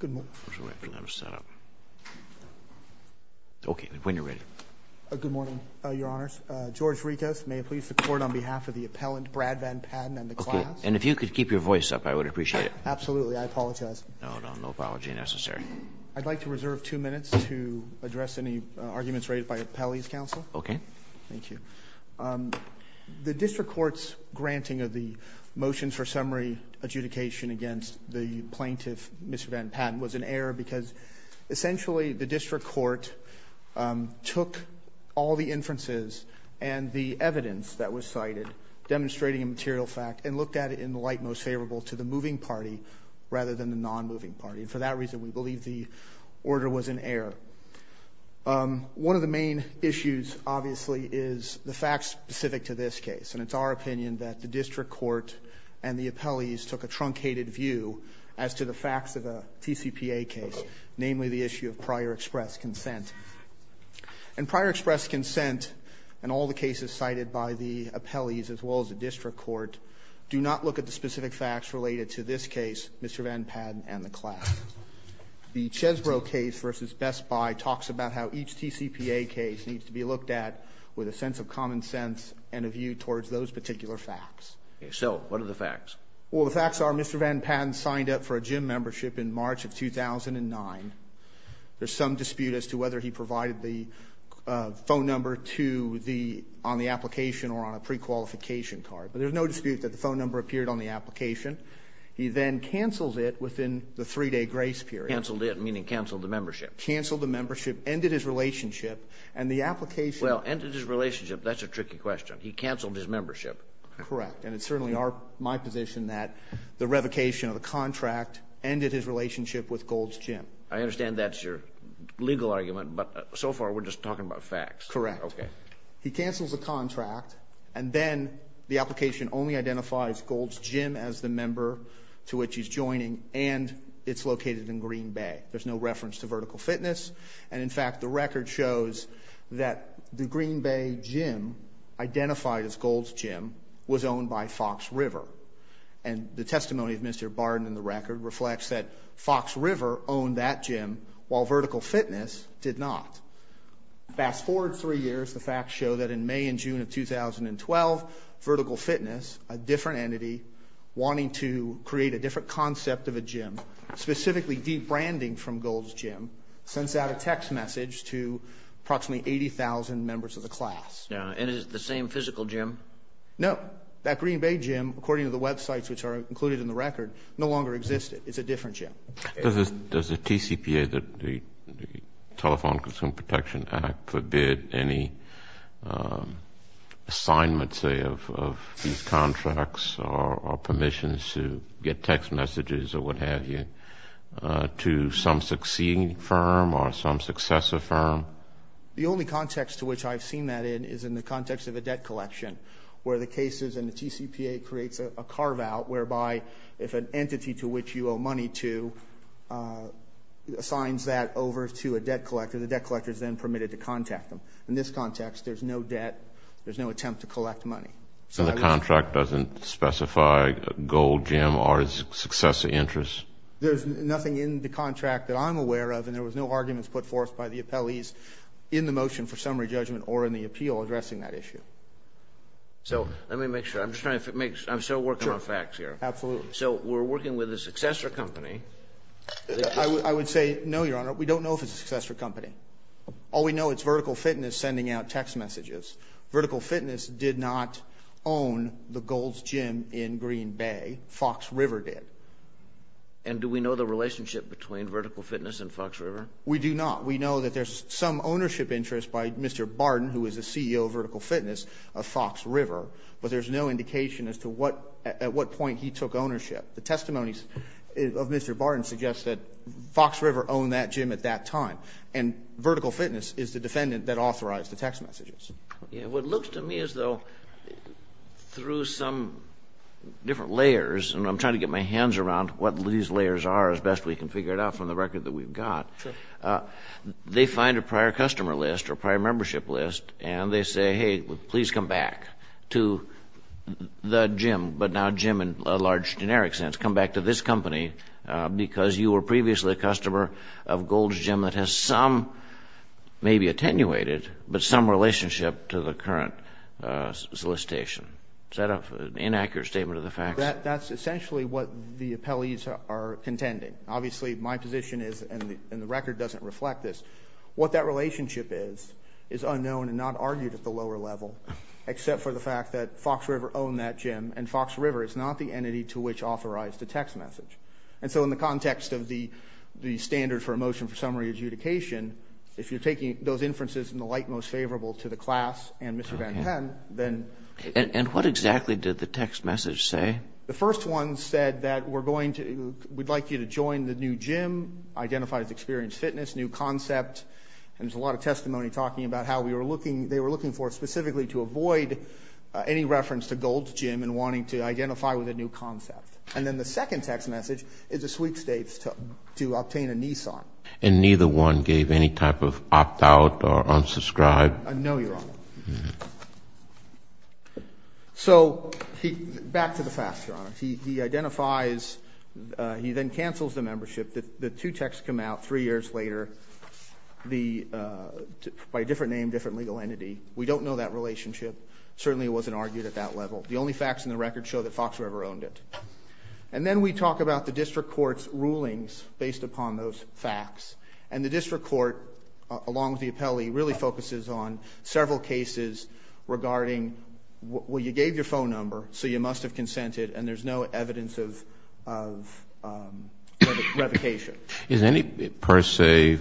Good morning, your honors. George Ritos, may it please the court on behalf of the appellant Brad Van Patten. And if you could keep your voice up, I would appreciate it. Absolutely, I apologize. No, no, no apology necessary. I'd like to reserve two minutes to address any arguments raised by Appellee's counsel. Okay. Thank you. The District Court's granting of the motions for summary adjudication against the plaintiff, Mr. Van Patten, was an error because essentially the District Court took all the inferences and the evidence that was cited, demonstrating a material fact, and looked at it in the light most favorable to the moving party rather than the non-moving party. For that reason, we believe the order was an error. One of the main issues, obviously, is the fact specific to this case. And it's our opinion that the District Court and the appellees took a truncated view as to the facts of a TCPA case, namely the issue of prior express consent. And prior express consent and all the cases cited by the appellees as well as the District Court do not look at the specific facts related to this case, Mr. Van Patten and the class. The Chesbrough case versus Best Buy talks about how each TCPA case needs to be looked at with a sense of Well, the facts are Mr. Van Patten signed up for a gym membership in March of 2009. There's some dispute as to whether he provided the phone number to the — on the application or on a prequalification card. But there's no dispute that the phone number appeared on the application. He then canceled it within the three-day grace period. Canceled it, meaning canceled the membership. Canceled the membership, ended his relationship, and the application — Well, ended his relationship, that's a tricky question. He canceled his membership. Correct. And it's certainly our — my position that the revocation of the contract ended his relationship with Gold's Gym. I understand that's your legal argument, but so far we're just talking about facts. Correct. He cancels the contract, and then the application only identifies Gold's Gym as the member to which he's joining, and it's located in Green Bay. There's no reference to Vertical Fitness. And in fact, the record shows that the was owned by Fox River. And the testimony of Mr. Barden in the record reflects that Fox River owned that gym, while Vertical Fitness did not. Fast forward three years, the facts show that in May and June of 2012, Vertical Fitness, a different entity wanting to create a different concept of a gym, specifically de-branding from Gold's Gym, sends out a text message to approximately 80,000 members of the class. And is it the same physical gym? No. That Green Bay gym, according to the websites which are included in the record, no longer existed. It's a different gym. Does the TCPA, the Telephone Consumer Protection Act, forbid any assignment, say, of these contracts or permissions to get text messages or what have you, to some succeeding firm or some successor firm? The only context to which I've seen that in is in the context of a debt collection, where the cases and the TCPA creates a carve-out whereby if an entity to which you owe money to assigns that over to a debt collector, the debt collector is then permitted to contact them. In this context, there's no debt. There's no attempt to collect money. So the contract doesn't specify Gold Gym or its successor interests? There's nothing in the contract that I'm aware of, and there was no arguments put forth by the appellees in the motion for summary judgment or in the appeal addressing that issue. So let me make sure. I'm still working on facts here. Absolutely. So we're working with a successor company. I would say no, Your Honor. We don't know if it's a successor company. All we know it's Vertical Fitness sending out text messages. Vertical Fitness did not own the Gold Gym in Green Bay. Fox River did. And do we know the relationship between Vertical Fitness and Fox River? We do not. We know that there's some ownership interest by Mr. Barden, who is the CEO of Vertical Fitness, of Fox River, but there's no indication as to what, at what point he took ownership. The testimonies of Mr. Barden suggest that Fox River owned that gym at that time, and Vertical Fitness is the defendant that authorized the text messages. Yeah, what looks to me as though through some different layers, and I'm trying to get my hands around what these layers are as best we can figure it out from the record, they find a prior customer list or prior membership list, and they say, hey, please come back to the gym, but now gym in a large generic sense. Come back to this company because you were previously a customer of Gold's Gym that has some, maybe attenuated, but some relationship to the current solicitation. Is that an inaccurate statement of the facts? That's essentially what the appellees are contending. Obviously, my position is, and the record doesn't reflect this, what that relationship is, is unknown and not argued at the lower level, except for the fact that Fox River owned that gym, and Fox River is not the entity to which authorized the text message. And so in the context of the standard for a motion for summary adjudication, if you're taking those inferences in the light most favorable to the class and Mr. Van Penn, then. And what exactly did the text message say? The first one said that we're going to, we'd like you to join the new gym, identify as experienced fitness, new concept, and there's a lot of testimony talking about how we were looking, they were looking for specifically to avoid any reference to Gold's Gym and wanting to identify with a new concept. And then the second text message is a sweet state to obtain a Nissan. And neither one gave any type of opt out or unsubscribe? No, Your Honor. So, back to the facts, Your Honor. He identifies, he then cancels the membership, the two texts come out three years later, by a different name, different legal entity. We don't know that relationship, certainly it wasn't argued at that level. The only facts in the record show that Fox River owned it. And then we talk about the district court's rulings based upon those facts. And the district court, along with the appellee, really focuses on several cases regarding, well, you gave your phone number, so you must have consented, and there's no evidence of revocation. Is any per se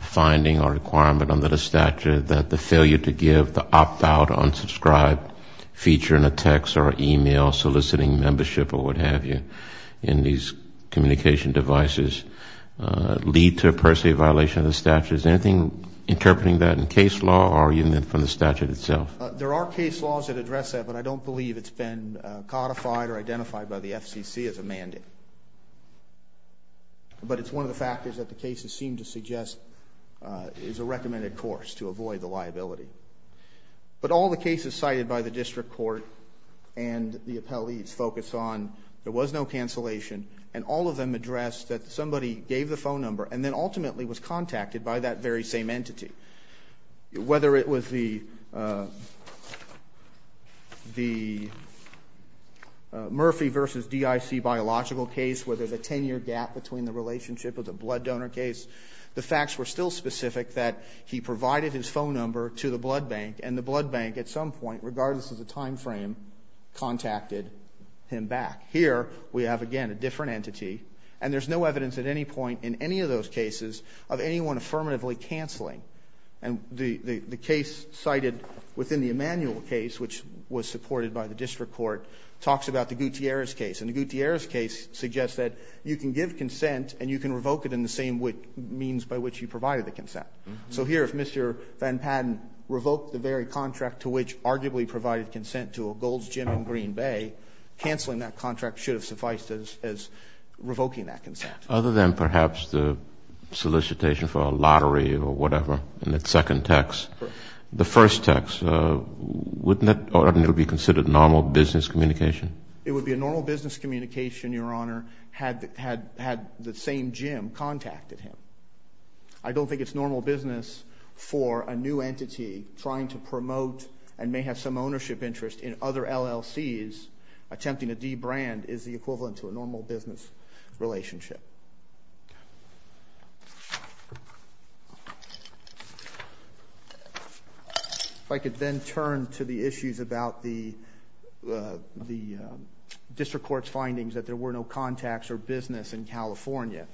finding or requirement under the statute that the failure to give the opt out or unsubscribe feature in a text or email soliciting membership or what have you in these communication devices lead to a per se violation of the statute? Is there anything interpreting that in case law or even from the statute itself? There are case laws that address that, but I don't believe it's been codified or identified by the FCC as a mandate. But it's one of the factors that the cases seem to suggest is a recommended course to avoid the liability. But all the cases cited by the district court and the appellee's focus on there was no cancellation, and all of them addressed that somebody gave the phone number and then ultimately was contacted by that very same entity. Whether it was the Murphy versus DIC biological case where there's a ten year gap between the relationship with the blood donor case, the facts were still that the blood donor gave the phone number to the blood bank, and the blood bank at some point, regardless of the time frame, contacted him back. Here we have, again, a different entity, and there's no evidence at any point in any of those cases of anyone affirmatively canceling. And the case cited within the Emanuel case, which was supported by the district court, talks about the Gutierrez case. And the Gutierrez case suggests that you can give consent and you can revoke it in the same means by which you provided the consent. So here, if Mr. Van Patten revoked the very contract to which arguably provided consent to a Gold's Gym in Green Bay, cancelling that contract should have sufficed as revoking that consent. Other than perhaps the solicitation for a lottery or whatever in the second text, the first text, wouldn't that be considered normal business communication? It would be a normal business communication, Your Honor, had the same gym contacted him. I don't think it's normal business for a new entity trying to promote and may have some ownership interest in other LLCs. Attempting to de-brand is the equivalent to a normal business relationship. If I could then turn to the issues about the district court's findings that there were no contacts or business in California.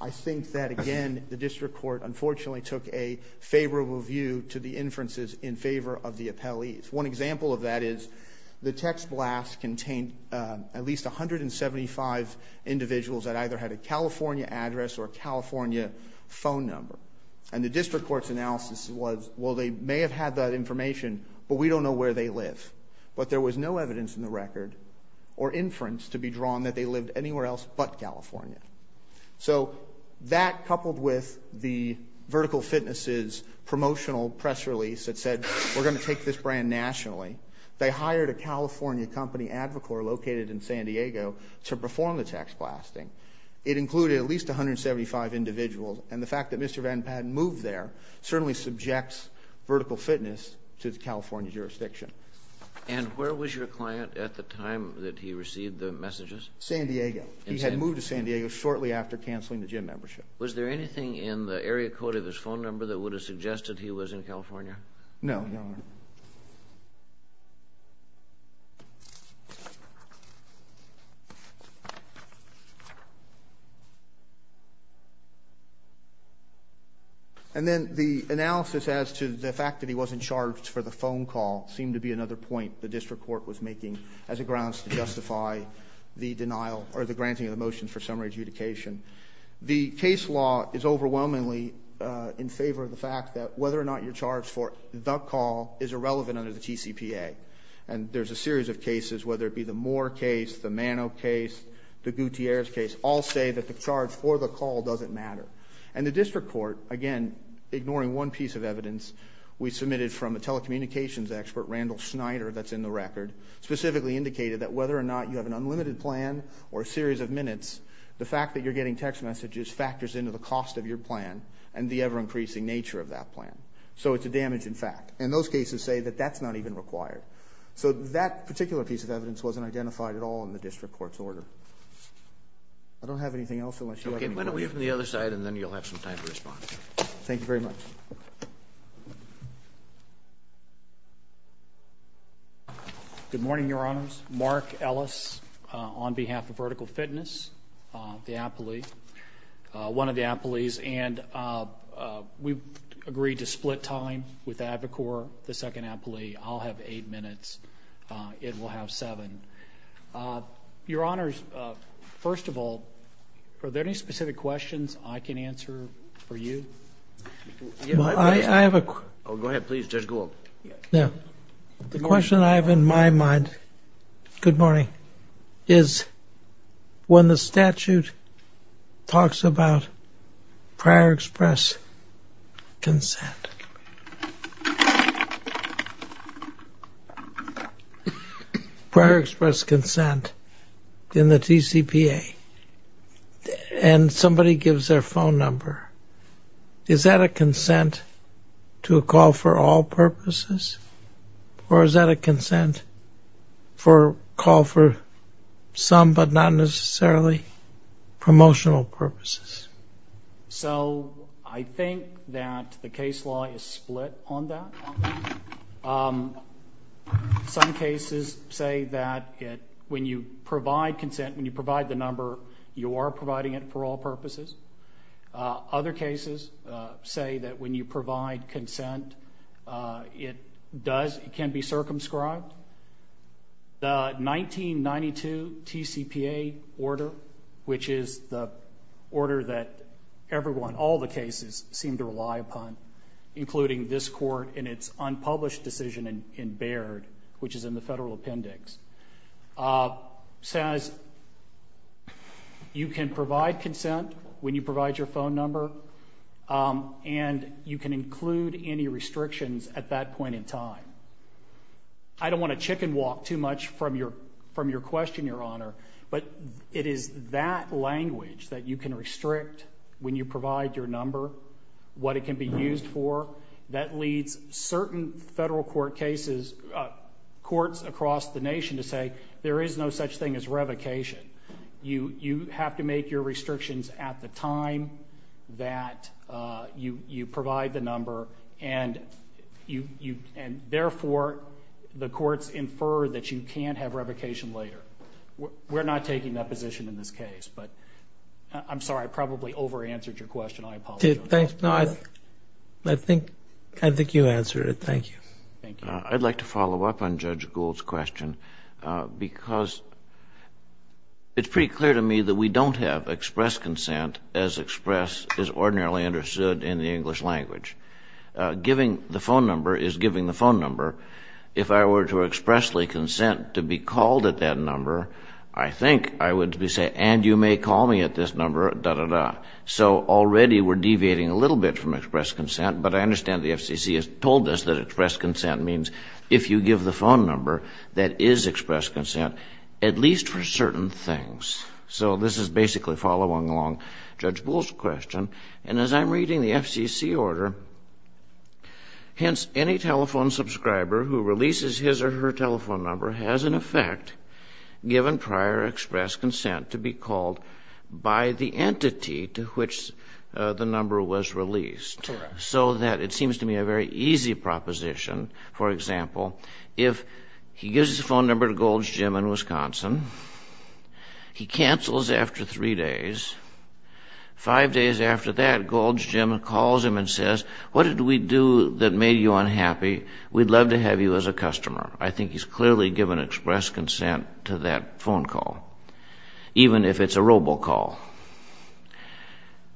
I think that, again, the district court unfortunately took a favorable view to the inferences in favor of the appellees. One example of that is the text blast contained at least 175 individuals that either had a California address or a California phone number. And the district court's analysis was, well, they may have had that information, but we don't know where they live. But there was no evidence in the record or inference to be drawn that they lived anywhere else but California. So that, coupled with the Vertical Fitness's promotional press release that said, we're going to take this brand nationally, they hired a California company, Advacore, located in San Diego to perform the text blasting. It included at least 175 individuals. And the fact that Mr. Van Padden moved there certainly subjects Vertical Fitness to the California jurisdiction. And where was your client at the time that he received the messages? San Diego. He had moved to San Diego shortly after canceling the gym membership. Was there anything in the area code of his phone number that would have suggested he was in California? No, your honor. And then the analysis as to the fact that he wasn't charged for the phone call seemed to be another point the district court was making as a grounds to justify the denial or the granting of the motion for summary adjudication. The case law is overwhelmingly in favor of the fact that whether or not you're charged for the call is irrelevant under the TCPA. And there's a series of cases, whether it be the Moore case, the Mano case, the Gutierrez case, all say that the charge for the call doesn't matter. And the district court, again, ignoring one piece of evidence, we submitted from a telecommunications expert, Randall Schneider, that's in the record, specifically indicated that whether or not you have an unlimited plan or a series of minutes, the fact that you're getting text messages factors into the cost of your plan and the ever increasing nature of that plan. So it's a damaging fact. And those cases say that that's not even required. So that particular piece of evidence wasn't identified at all in the district court's order. I don't have anything else unless you- Okay, went away from the other side and then you'll have some time to respond. Thank you very much. Good morning, Your Honors. Mark Ellis on behalf of Vertical Fitness, the apology, one of the apologies. And we've agreed to split time with AdvoCorp, the second apology. I'll have eight minutes. It will have seven. Your Honors, first of all, are there any specific questions I can answer for you? I have a- Go ahead, please, Judge Gould. Now, the question I have in my mind, good morning, is when the statute talks about prior express consent. Prior express consent in the TCPA, and somebody gives their phone number, is that a consent to a call for all purposes? Or is that a consent for a call for some but not necessarily promotional purposes? So I think that the case law is split on that. Some cases say that when you provide consent, when you provide the number, you are providing it for all purposes. Other cases say that when you provide consent, it does, it can be circumscribed. The 1992 TCPA order, which is the order that everyone, all the cases seem to rely upon, including this court in its unpublished decision in Baird, which is in the federal appendix, says, you can provide consent when you provide your phone number, and you can include any restrictions at that point in time. I don't want to chicken walk too much from your question, Your Honor, but it is that language that you can restrict when you provide your number, what it can be used for, that leads certain federal court cases, courts across the nation to say, there is no such thing as revocation. You have to make your restrictions at the time that you provide the number, and therefore, the courts infer that you can't have revocation later. We're not taking that position in this case, but I'm sorry, I probably over-answered your question. I apologize. I think you answered it, thank you. I'd like to follow up on Judge Gould's question, because it's pretty clear to me that we don't have express consent as express is ordinarily understood in the English language. Giving the phone number is giving the phone number. If I were to expressly consent to be called at that number, I think I would be saying, and you may call me at this number, dah, dah, dah. So already we're deviating a little bit from express consent, but I understand the FCC has told us that express consent means if you give the phone number, that is express consent, at least for certain things. So this is basically following along Judge Gould's question, and as I'm reading the FCC order, hence, any telephone subscriber who releases his or her telephone number has, in effect, given prior express consent to be called by the entity to which the number was released, so that it seems to me a very easy proposition, for example, if he gives his phone number to Gould's gym in Wisconsin, he cancels after three days, five days after that, Gould's gym calls him and says, what did we do that made you unhappy? We'd love to have you as a customer. I think he's clearly given express consent to that phone call, even if it's a robocall.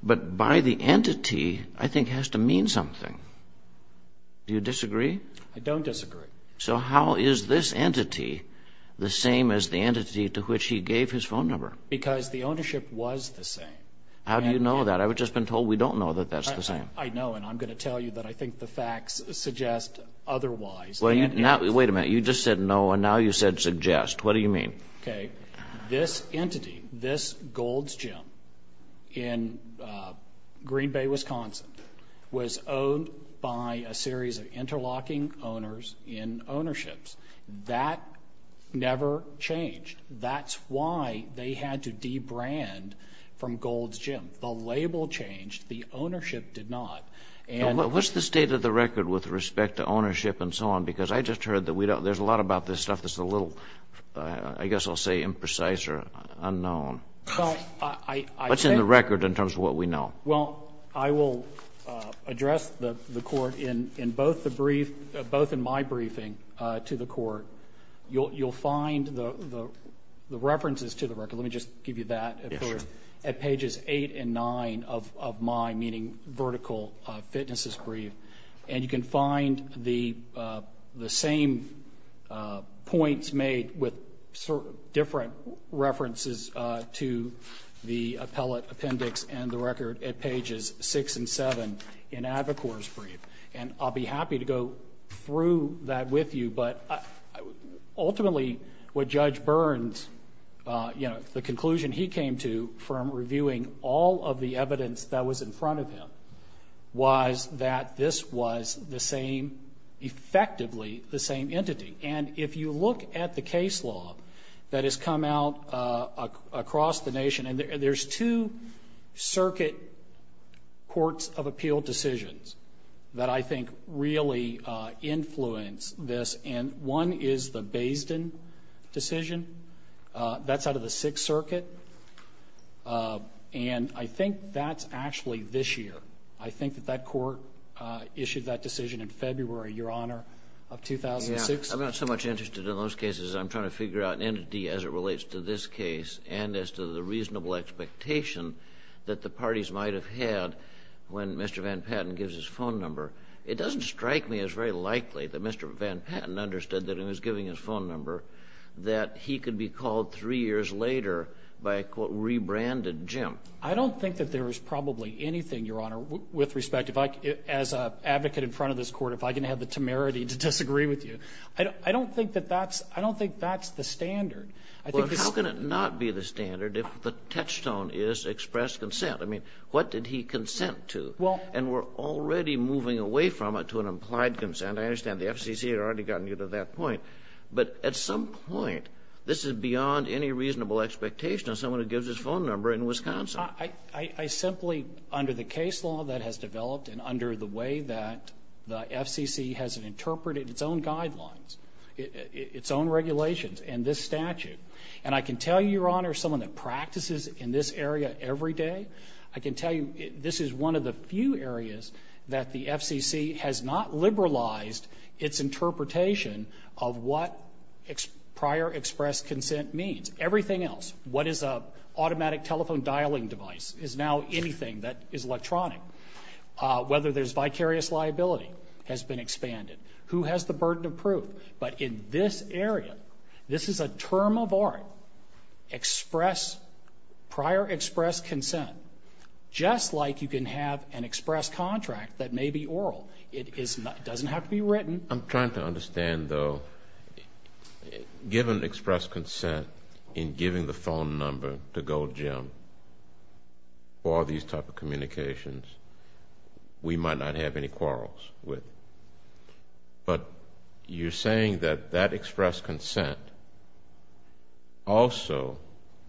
But by the entity, I think it has to mean something. Do you disagree? I don't disagree. So how is this entity the same as the entity to which he gave his phone number? Because the ownership was the same. How do you know that? I've just been told we don't know that that's the same. I know, and I'm going to tell you that I think the facts suggest otherwise. Well, wait a minute. You just said no, and now you said suggest. What do you mean? OK, this entity, this Gould's gym in Green Bay, Wisconsin, was owned by a series of interlocking owners in ownerships that never changed. That's why they had to debrand from Gould's gym. The label changed. The ownership did not. What's the state of the record with respect to ownership and so on? Because I just heard that there's a lot about this stuff that's a little, I guess I'll say imprecise or unknown. What's in the record in terms of what we know? Well, I will address the court in both the brief, both in my briefing to the court. You'll find the references to the record. Let me just give you that. At pages eight and nine of my meeting, vertical fitness brief, and you can find the same points made with different references to the appellate appendix and the record at pages six and seven in Avicor's brief. And I'll be happy to go through that with you. But ultimately, what Judge Burns, the conclusion he came to from reviewing all of the evidence that was in front of him was that this was the same, effectively the same entity. And if you look at the case law that has come out across the nation, and there's two circuit courts of appeal decisions that I think really influence this. And one is the Basden decision. That's out of the Sixth Circuit. And I think that's actually this year. I think that that court issued that decision in February, Your Honor, of 2006. I'm not so much interested in those cases. I'm trying to figure out an entity as it relates to this case and as to the reasonable expectation that the parties might have had when Mr. Van Patten gives his phone number. It doesn't strike me as very likely that Mr. Van Patten understood that he was giving his phone number that he could be called three years later by a, quote, rebranded Jim. I don't think that there is probably anything, Your Honor, with respect, if I, as an advocate in front of this Court, if I can have the temerity to disagree with you, I don't think that that's the standard. I think it's the standard. Well, how can it not be the standard if the touchstone is expressed consent? I mean, what did he consent to? Well And we're already moving away from it to an implied consent. I understand the FCC had already gotten you to that point. But at some point, this is beyond any reasonable expectation of someone who gives his phone number in Wisconsin. I simply, under the case law that has developed and under the way that the FCC has interpreted its own guidelines, its own regulations and this statute, and I can tell you, Your Honor, someone that practices in this area every day, I can tell you this is one of the few that the FCC has not liberalized its interpretation of what prior expressed consent means. Everything else, what is a automatic telephone dialing device, is now anything that is electronic. Whether there's vicarious liability has been expanded. Who has the burden of proof? But in this area, this is a term of art. Express, prior express consent, just like you can have an express contract that may be oral. It doesn't have to be written. I'm trying to understand though, given express consent in giving the phone number to Gold Gem or these type of communications, we might not have any quarrels with. But you're saying that that express consent also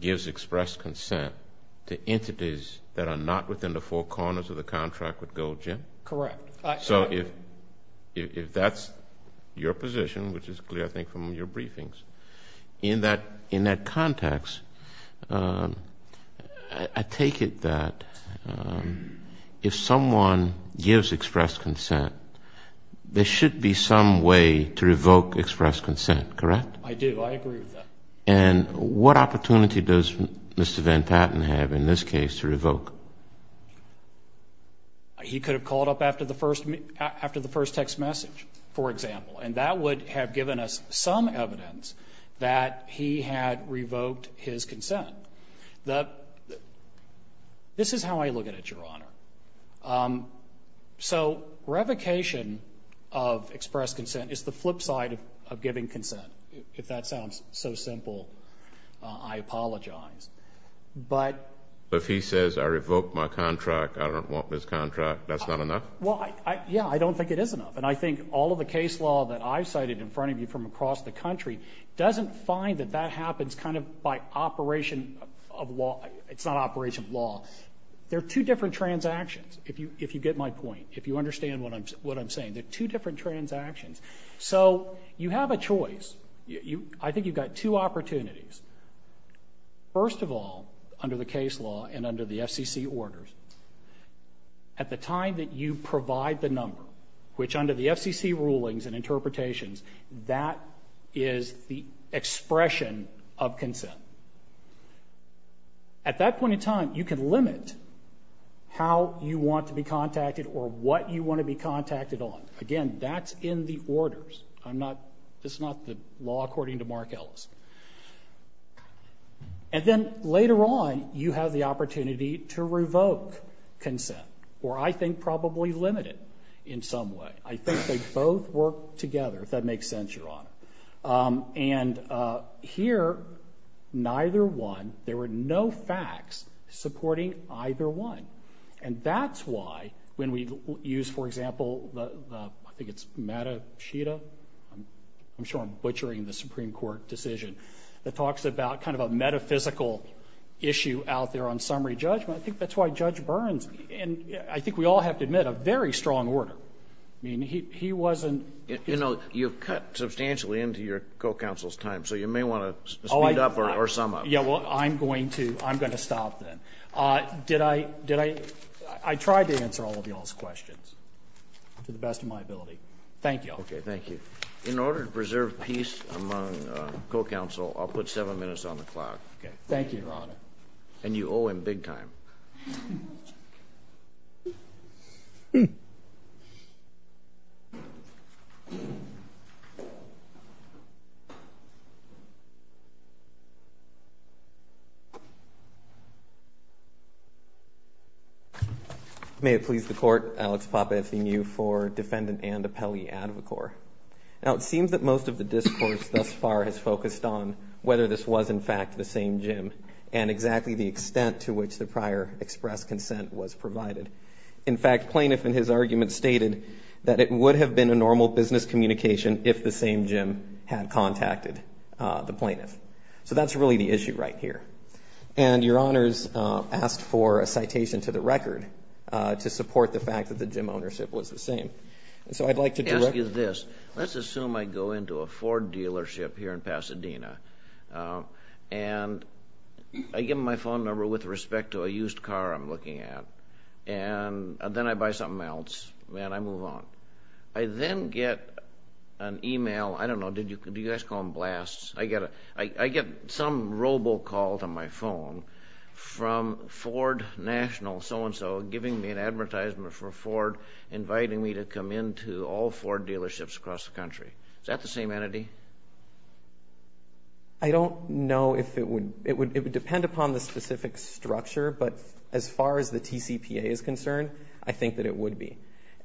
gives express consent to entities that are not within the four corners of the contract with Gold Gem? Correct. So if that's your position, which is clear, I think, from your briefings, in that context, I take it that if someone gives express consent, there should be some way to revoke express consent, correct? I do. I agree with that. And what opportunity does Mr. Van Patten have in this case to revoke? He could have called up after the first text message, for example. And that would have given us some evidence that he had revoked his consent. This is how I look at it, Your Honor. So revocation of express consent is the flip side of giving consent. If that sounds so simple, I apologize. But if he says, I revoked my contract, I don't want this contract, that's not enough? Well, yeah. I don't think it is enough. And I think all of the case law that I've cited in front of you from across the country doesn't find that that happens kind of by operation of law. It's not operation of law. There are two different transactions, if you get my point, if you understand what I'm saying. There are two different transactions. So you have a choice. I think you've got two opportunities. First of all, under the case law and under the FCC orders, at the time that you provide the number, which under the FCC rulings and interpretations, that is the expression of consent, at that point in time, you can limit how you want to be contacted or what you want to be contacted on. Again, that's in the orders. I'm not, it's not the law according to Mark Ellis. And then later on, you have the opportunity to revoke consent, or I think probably limit in some way. I think they both work together, if that makes sense, Your Honor. And here, neither one, there were no facts supporting either one. And that's why when we use, for example, the, I think it's Mata Sheeta, I'm sure I'm butchering the Supreme Court decision, that talks about kind of a metaphysical issue out there on summary judgment. I think that's why Judge Burns, and I think we all have to admit a very strong order. I mean, he wasn't, you know, you've cut substantially into your co-counsel's time, so you may want to speed up or sum up. Yeah, well, I'm going to, I'm going to stop then. Did I, did I, I tried to answer all of y'all's questions to the best of my ability. Thank you. Okay, thank you. In order to preserve peace among co-counsel, I'll put seven minutes on the clock. Okay, thank you, Your Honor. And you owe him big time. May it please the Court, Alex Pape, FDMU, for Defendant Anne DiPelli, Advocore. Now, it seems that most of the discourse thus far has focused on whether this was, in fact, the same gym and exactly the extent to which the prior express consent was provided. In fact, plaintiff in his argument stated that it would have been a normal business communication if the same gym had contacted the plaintiff. So, that's really the issue right here. And Your Honors asked for a citation to the record to support the fact that the gym ownership was the same. And so, I'd like to ask you this. Let's assume I go into a Ford dealership here in Pasadena. And I give them my phone number with respect to a used car I'm looking at. And then I buy something else. Man, I move on. I then get an email. I don't know. Do you guys call them blasts? I get some robocall to my phone from Ford National so-and-so giving me an advertisement for Ford inviting me to come into all Ford dealerships across the country. Is that the same entity? I don't know if it would. It would depend upon the specific structure. But as far as the TCPA is concerned, I think that it would be.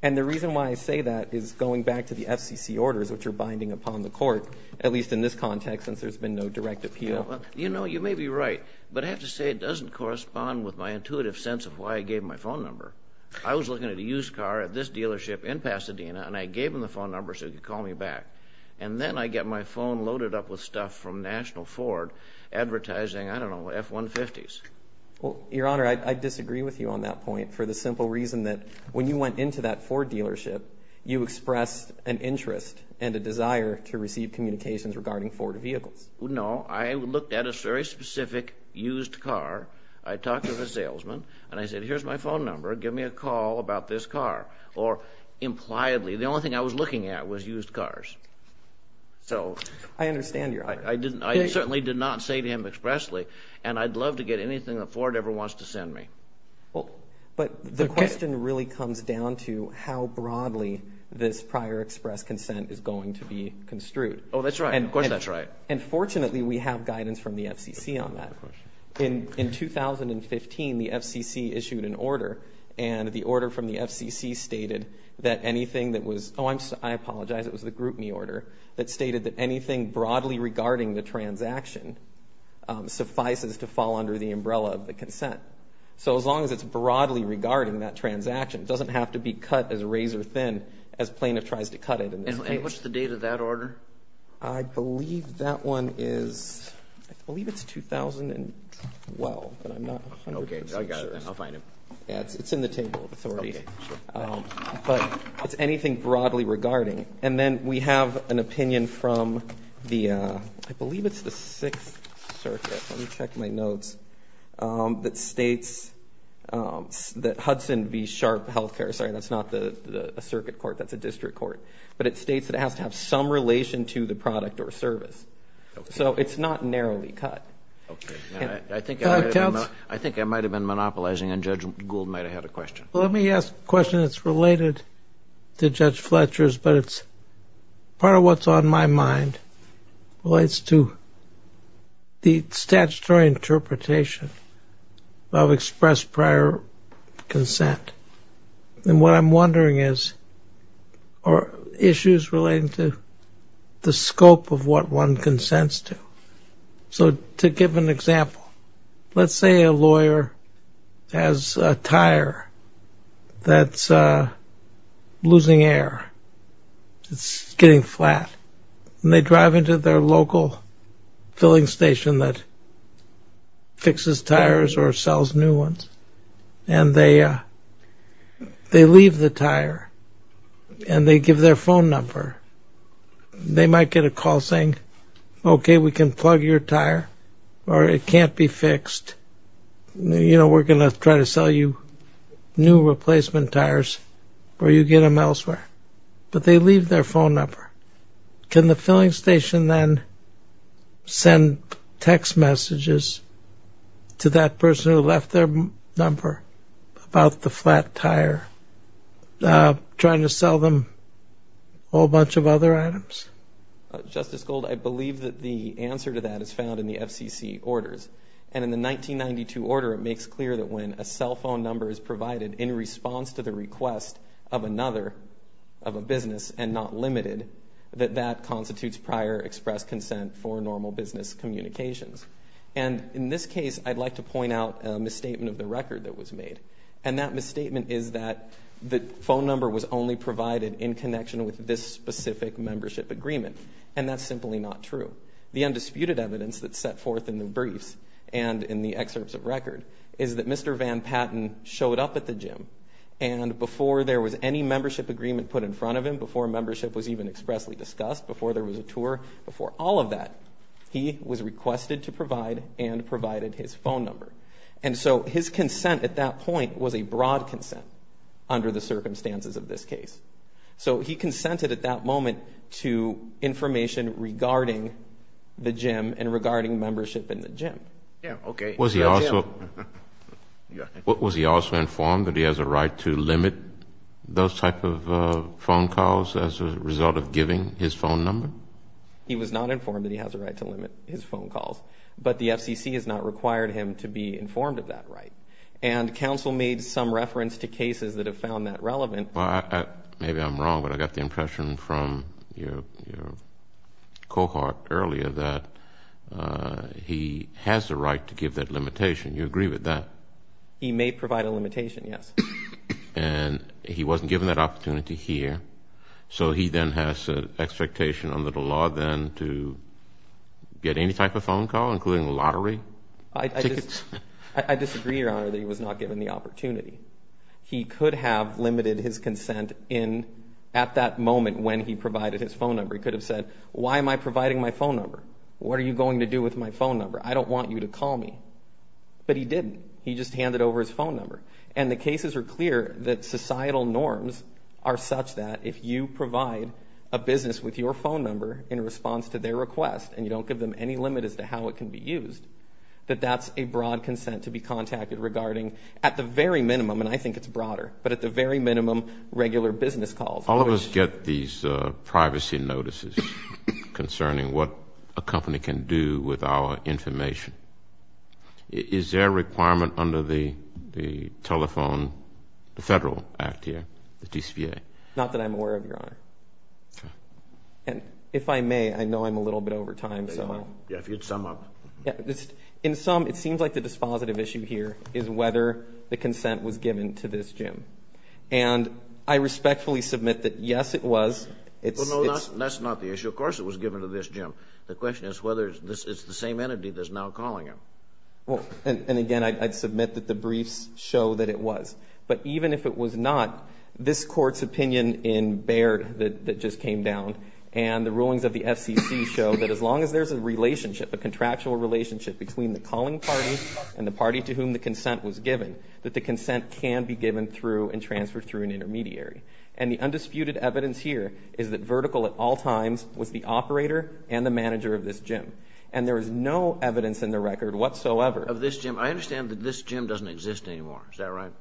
And the reason why I say that is going back to the FCC orders which are binding upon the court, at least in this context since there's been no direct appeal. You know, you may be right. But I have to say it doesn't correspond with my intuitive sense of why I gave my phone number. I was looking at a used car at this dealership in Pasadena and I gave him the phone number so he could call me back. And then I get my phone loaded up with stuff from National Ford advertising, I don't know, F-150s. Well, Your Honor, I disagree with you on that point for the simple reason that when you went into that Ford dealership, you expressed an interest and a desire to receive communications regarding Ford vehicles. No, I looked at a very specific used car. I talked to the salesman and I said, here's my phone number. Give me a call about this car. Or impliedly, the only thing I was looking at was used cars. So I understand, Your Honor. I certainly did not say to him expressly, and I'd love to get anything that Ford ever wants to send me. Well, but the question really comes down to how broadly this prior express consent is going to be construed. Oh, that's right. Of course, that's right. And fortunately, we have guidance from the FCC on that. In 2015, the FCC issued an order. And the order from the FCC stated that anything that was, oh, I apologize, it was the Group Me order that stated that anything broadly regarding the transaction suffices to fall under the umbrella of the consent. So as long as it's broadly regarding that transaction, it doesn't have to be cut as razor thin as plaintiff tries to cut it. And what's the date of that order? I believe that one is, I believe it's 2012, but I'm not 100% sure. Okay, I got it. I'll find it. Yeah, it's in the table of authority. But it's anything broadly regarding. And then we have an opinion from the, I believe it's the Sixth Circuit. Let me check my notes. That states that Hudson v. Sharp Healthcare, sorry, that's not a circuit court. That's a district court. But it states that it has to have some relation to the product or service. So it's not narrowly cut. I think I might have been monopolizing and Judge Gould might have had a question. Well, let me ask a question that's related to Judge Fletcher's, but it's part of what's on my mind relates to the statutory interpretation of express prior consent. And what I'm wondering is, are issues relating to the scope of what one consents to? So to give an example, let's say a lawyer has a tire that's losing air. It's getting flat. And they drive into their local filling station that fixes tires or sells new ones. And they leave the tire and they give their phone number. They might get a call saying, okay, we can plug your tire or it can't be fixed. You know, we're going to try to sell you new replacement tires or you get them elsewhere. But they leave their phone number. Can the filling station then send text messages to that person who left their number about the flat tire, trying to sell them a whole bunch of other items? Justice Gould, I believe that the answer to that is found in the FCC orders. And in the 1992 order, it makes clear that when a cell phone number is provided in response to the request of another, of a business and not limited, that that constitutes prior express consent for normal business communications. And in this case, I'd like to point out a misstatement of the record that was made. And that misstatement is that the phone number was only provided in connection with this specific membership agreement. And that's simply not true. The undisputed evidence that's set forth in the briefs and in the excerpts of record is that Mr. Van Patten showed up at the gym and before there was any membership agreement put in front of him, before membership was even expressly discussed, before there was a tour, before all of that, he was requested to provide and provided his phone number. And so his consent at that point was a broad consent under the circumstances of this case. So he consented at that moment to information regarding the gym and regarding membership in the gym. Yeah, okay. Was he also informed that he has a right to limit those type of phone calls as a result of giving his phone number? He was not informed that he has a right to limit his phone calls, but the FCC has not required him to be informed of that right. And counsel made some reference to cases that have found that relevant. Maybe I'm wrong, but I got the impression from your cohort earlier that he has the right to give that limitation. Do you agree with that? He may provide a limitation, yes. And he wasn't given that opportunity here, so he then has an expectation under the law then to get any type of phone call, including lottery tickets? I disagree, Your Honor, that he was not given the opportunity. He could have limited his consent at that moment when he provided his phone number. He could have said, why am I providing my phone number? What are you going to do with my phone number? I don't want you to call me. But he didn't. He just handed over his phone number. And the cases are clear that societal norms are such that if you provide a business with your phone number in response to their request and you don't give them any limit as to how it can be used, that that's a broad consent to be contacted regarding, at the very minimum, and I think it's broader, but at the very minimum, regular business calls. All of us get these privacy notices concerning what a company can do with our information. Is there a requirement under the telephone, the federal act here, the TCPA? Not that I'm aware of, Your Honor. And if I may, I know I'm a little bit over time, so. Yeah, if you'd sum up. In sum, it seems like the dispositive issue here is whether the consent was given to this And I respectfully submit that, yes, it was. Well, no, that's not the issue. Of course it was given to this, Jim. The question is whether it's the same entity that's now calling him. Well, and again, I'd submit that the briefs show that it was. But even if it was not, this Court's opinion in Baird that just came down and the rulings of the FCC show that as long as there's a relationship, a contractual relationship between the calling party and the party to whom the consent was given, that the consent can be given through and transferred through an intermediary. And the undisputed evidence here is that Vertical at all times was the operator and the manager of this gym. And there is no evidence in the record whatsoever. Of this gym. I understand that this gym doesn't exist anymore. Is that right?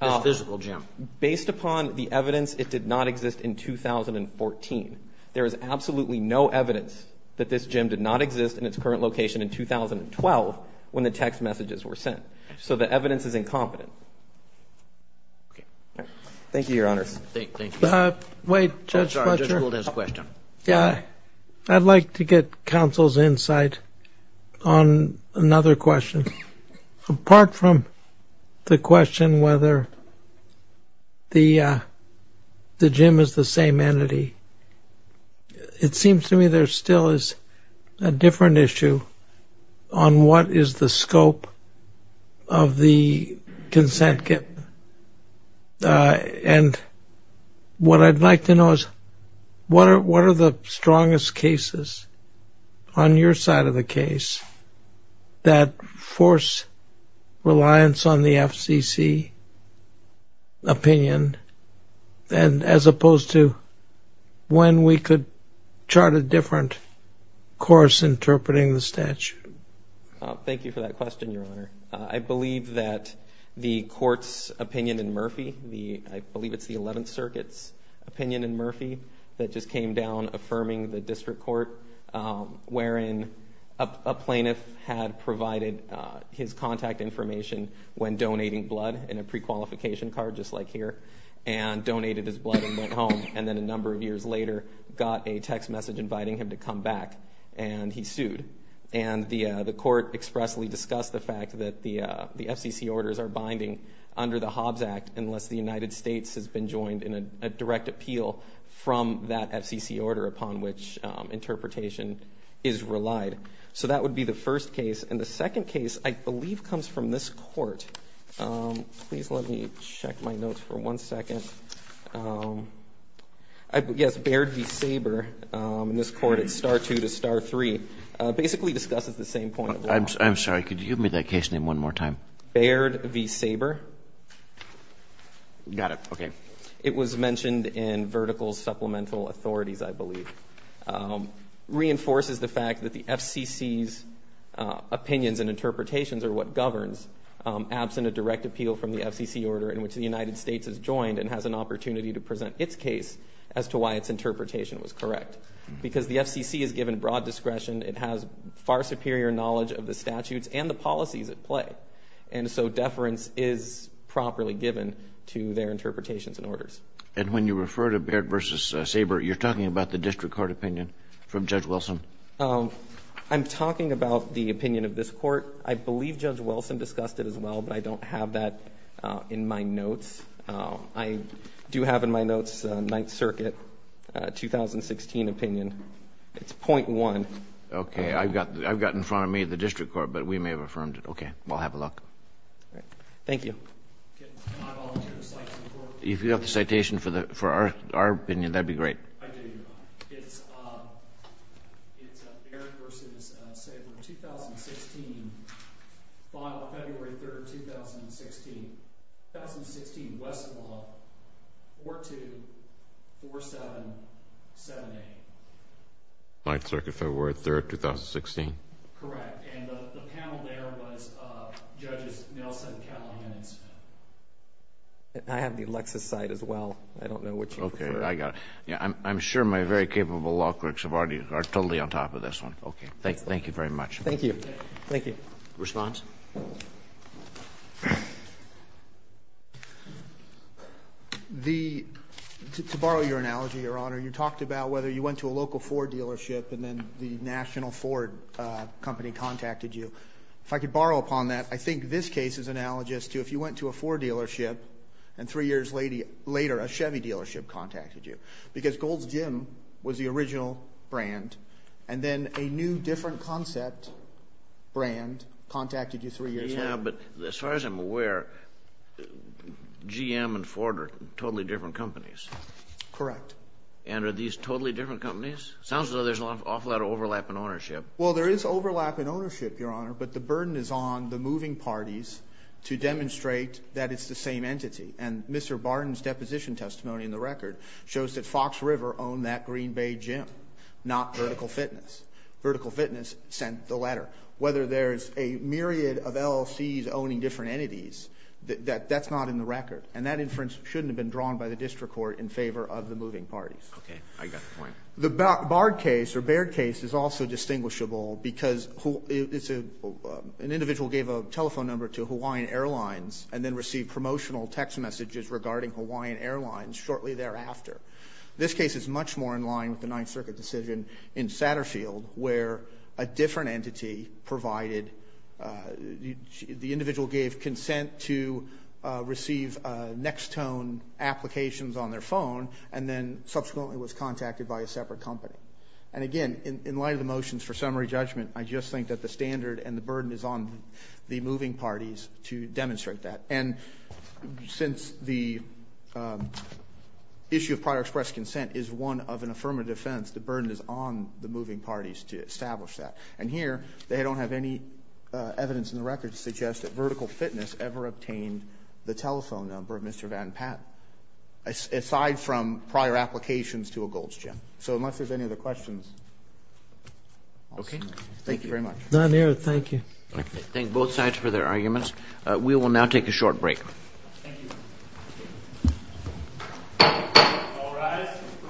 This physical gym. Based upon the evidence, it did not exist in 2014. There is absolutely no evidence that this gym did not exist in its current location in 2012 when the text messages were sent. So the evidence is incompetent. Okay, thank you, Your Honor. Wait, Judge Fletcher, I'd like to get counsel's insight on another question. Apart from the question whether the gym is the same entity, it seems to me there still is a different issue on what is the scope of the consent. And what I'd like to know is what are the strongest cases on your side of the case that force reliance on the FCC opinion as opposed to when we could chart a different course interpreting the statute? Thank you for that question, Your Honor. I believe that the court's opinion in Murphy, I believe it's the 11th Circuit's opinion in his contact information when donating blood in a prequalification card, just like here, and donated his blood and went home, and then a number of years later got a text message inviting him to come back, and he sued. And the court expressly discussed the fact that the FCC orders are binding under the Hobbs Act unless the United States has been joined in a direct appeal from that FCC order upon which interpretation is relied. So that would be the first case. And the second case I believe comes from this court. Please let me check my notes for one second. Yes, Baird v. Saber in this court, it's star two to star three, basically discusses the same point. I'm sorry. Could you give me that case name one more time? Baird v. Saber. Okay. It was mentioned in vertical supplemental authorities, I believe. Reinforces the fact that the FCC's opinions and interpretations are what governs absent a direct appeal from the FCC order in which the United States is joined and has an opportunity to present its case as to why its interpretation was correct. Because the FCC is given broad discretion. It has far superior knowledge of the statutes and the policies at play. And so deference is properly given to their interpretations and orders. And when you refer to Baird v. Saber, you're talking about the district court opinion from Judge Wilson? I'm talking about the opinion of this court. I believe Judge Wilson discussed it as well, but I don't have that in my notes. I do have in my notes Ninth Circuit 2016 opinion. It's point one. Okay. I've got in front of me the district court, but we may have affirmed it. Okay. Well, have a look. All right. Thank you. Can I volunteer to cite some court opinions? If you have the citation for our opinion, that'd be great. I do. It's Baird v. Saber 2016, final, February 3rd, 2016. 2016, Westlaw, 4-2-4-7-7-8. Ninth Circuit, February 3rd, 2016. Correct. And the panel there was Judges Nelson, Callahan, and Smith. I have the Lexus side as well. I don't know what you prefer. Okay. I got it. Yeah, I'm sure my very capable law clerks are totally on top of this one. Okay. Thank you very much. Thank you. Thank you. Response? To borrow your analogy, Your Honor, you talked about whether you went to a local Ford dealership and then the national Ford company contacted you. If I could borrow upon that, I think this case is analogous to if you went to a Ford dealership and three years later, a Chevy dealership contacted you. Because Gold's Gym was the original brand and then a new different concept brand contacted you three years later. Yeah, but as far as I'm aware, GM and Ford are totally different companies. Correct. And are these totally different companies? Sounds as though there's an awful lot of overlap in ownership. Well, there is overlap in ownership, Your Honor, but the burden is on the moving parties to demonstrate that it's the same entity. And Mr. Barton's deposition testimony in the record shows that Fox River owned that Green Bay Gym, not Vertical Fitness. Vertical Fitness sent the letter. Whether there's a myriad of LLCs owning different entities, that's not in the record. And that inference shouldn't have been drawn by the district court in favor of the moving parties. Okay. I got the point. The Bard case or Baird case is also distinguishable because an individual gave a telephone number to Hawaiian Airlines and then received promotional text messages regarding Hawaiian Airlines shortly thereafter. This case is much more in line with the Ninth Circuit decision in Satterfield where a different entity provided, the individual gave consent to receive Nextone applications on their phone and then subsequently was contacted by a separate company. And again, in light of the motions for summary judgment, I just think that the standard and the burden is on the moving parties to demonstrate that. And since the issue of prior expressed consent is one of an affirmative defense, the burden is on the moving parties to establish that. And here, they don't have any evidence in the record to suggest that Vertical Fitness ever obtained the telephone number of Mr. Van Patten. Aside from prior applications to a Gold's Gym. So unless there's any other questions. Okay. Thank you very much. None here. Thank you. Okay. Thank both sides for their arguments. We will now take a short break. Thank you. All rise.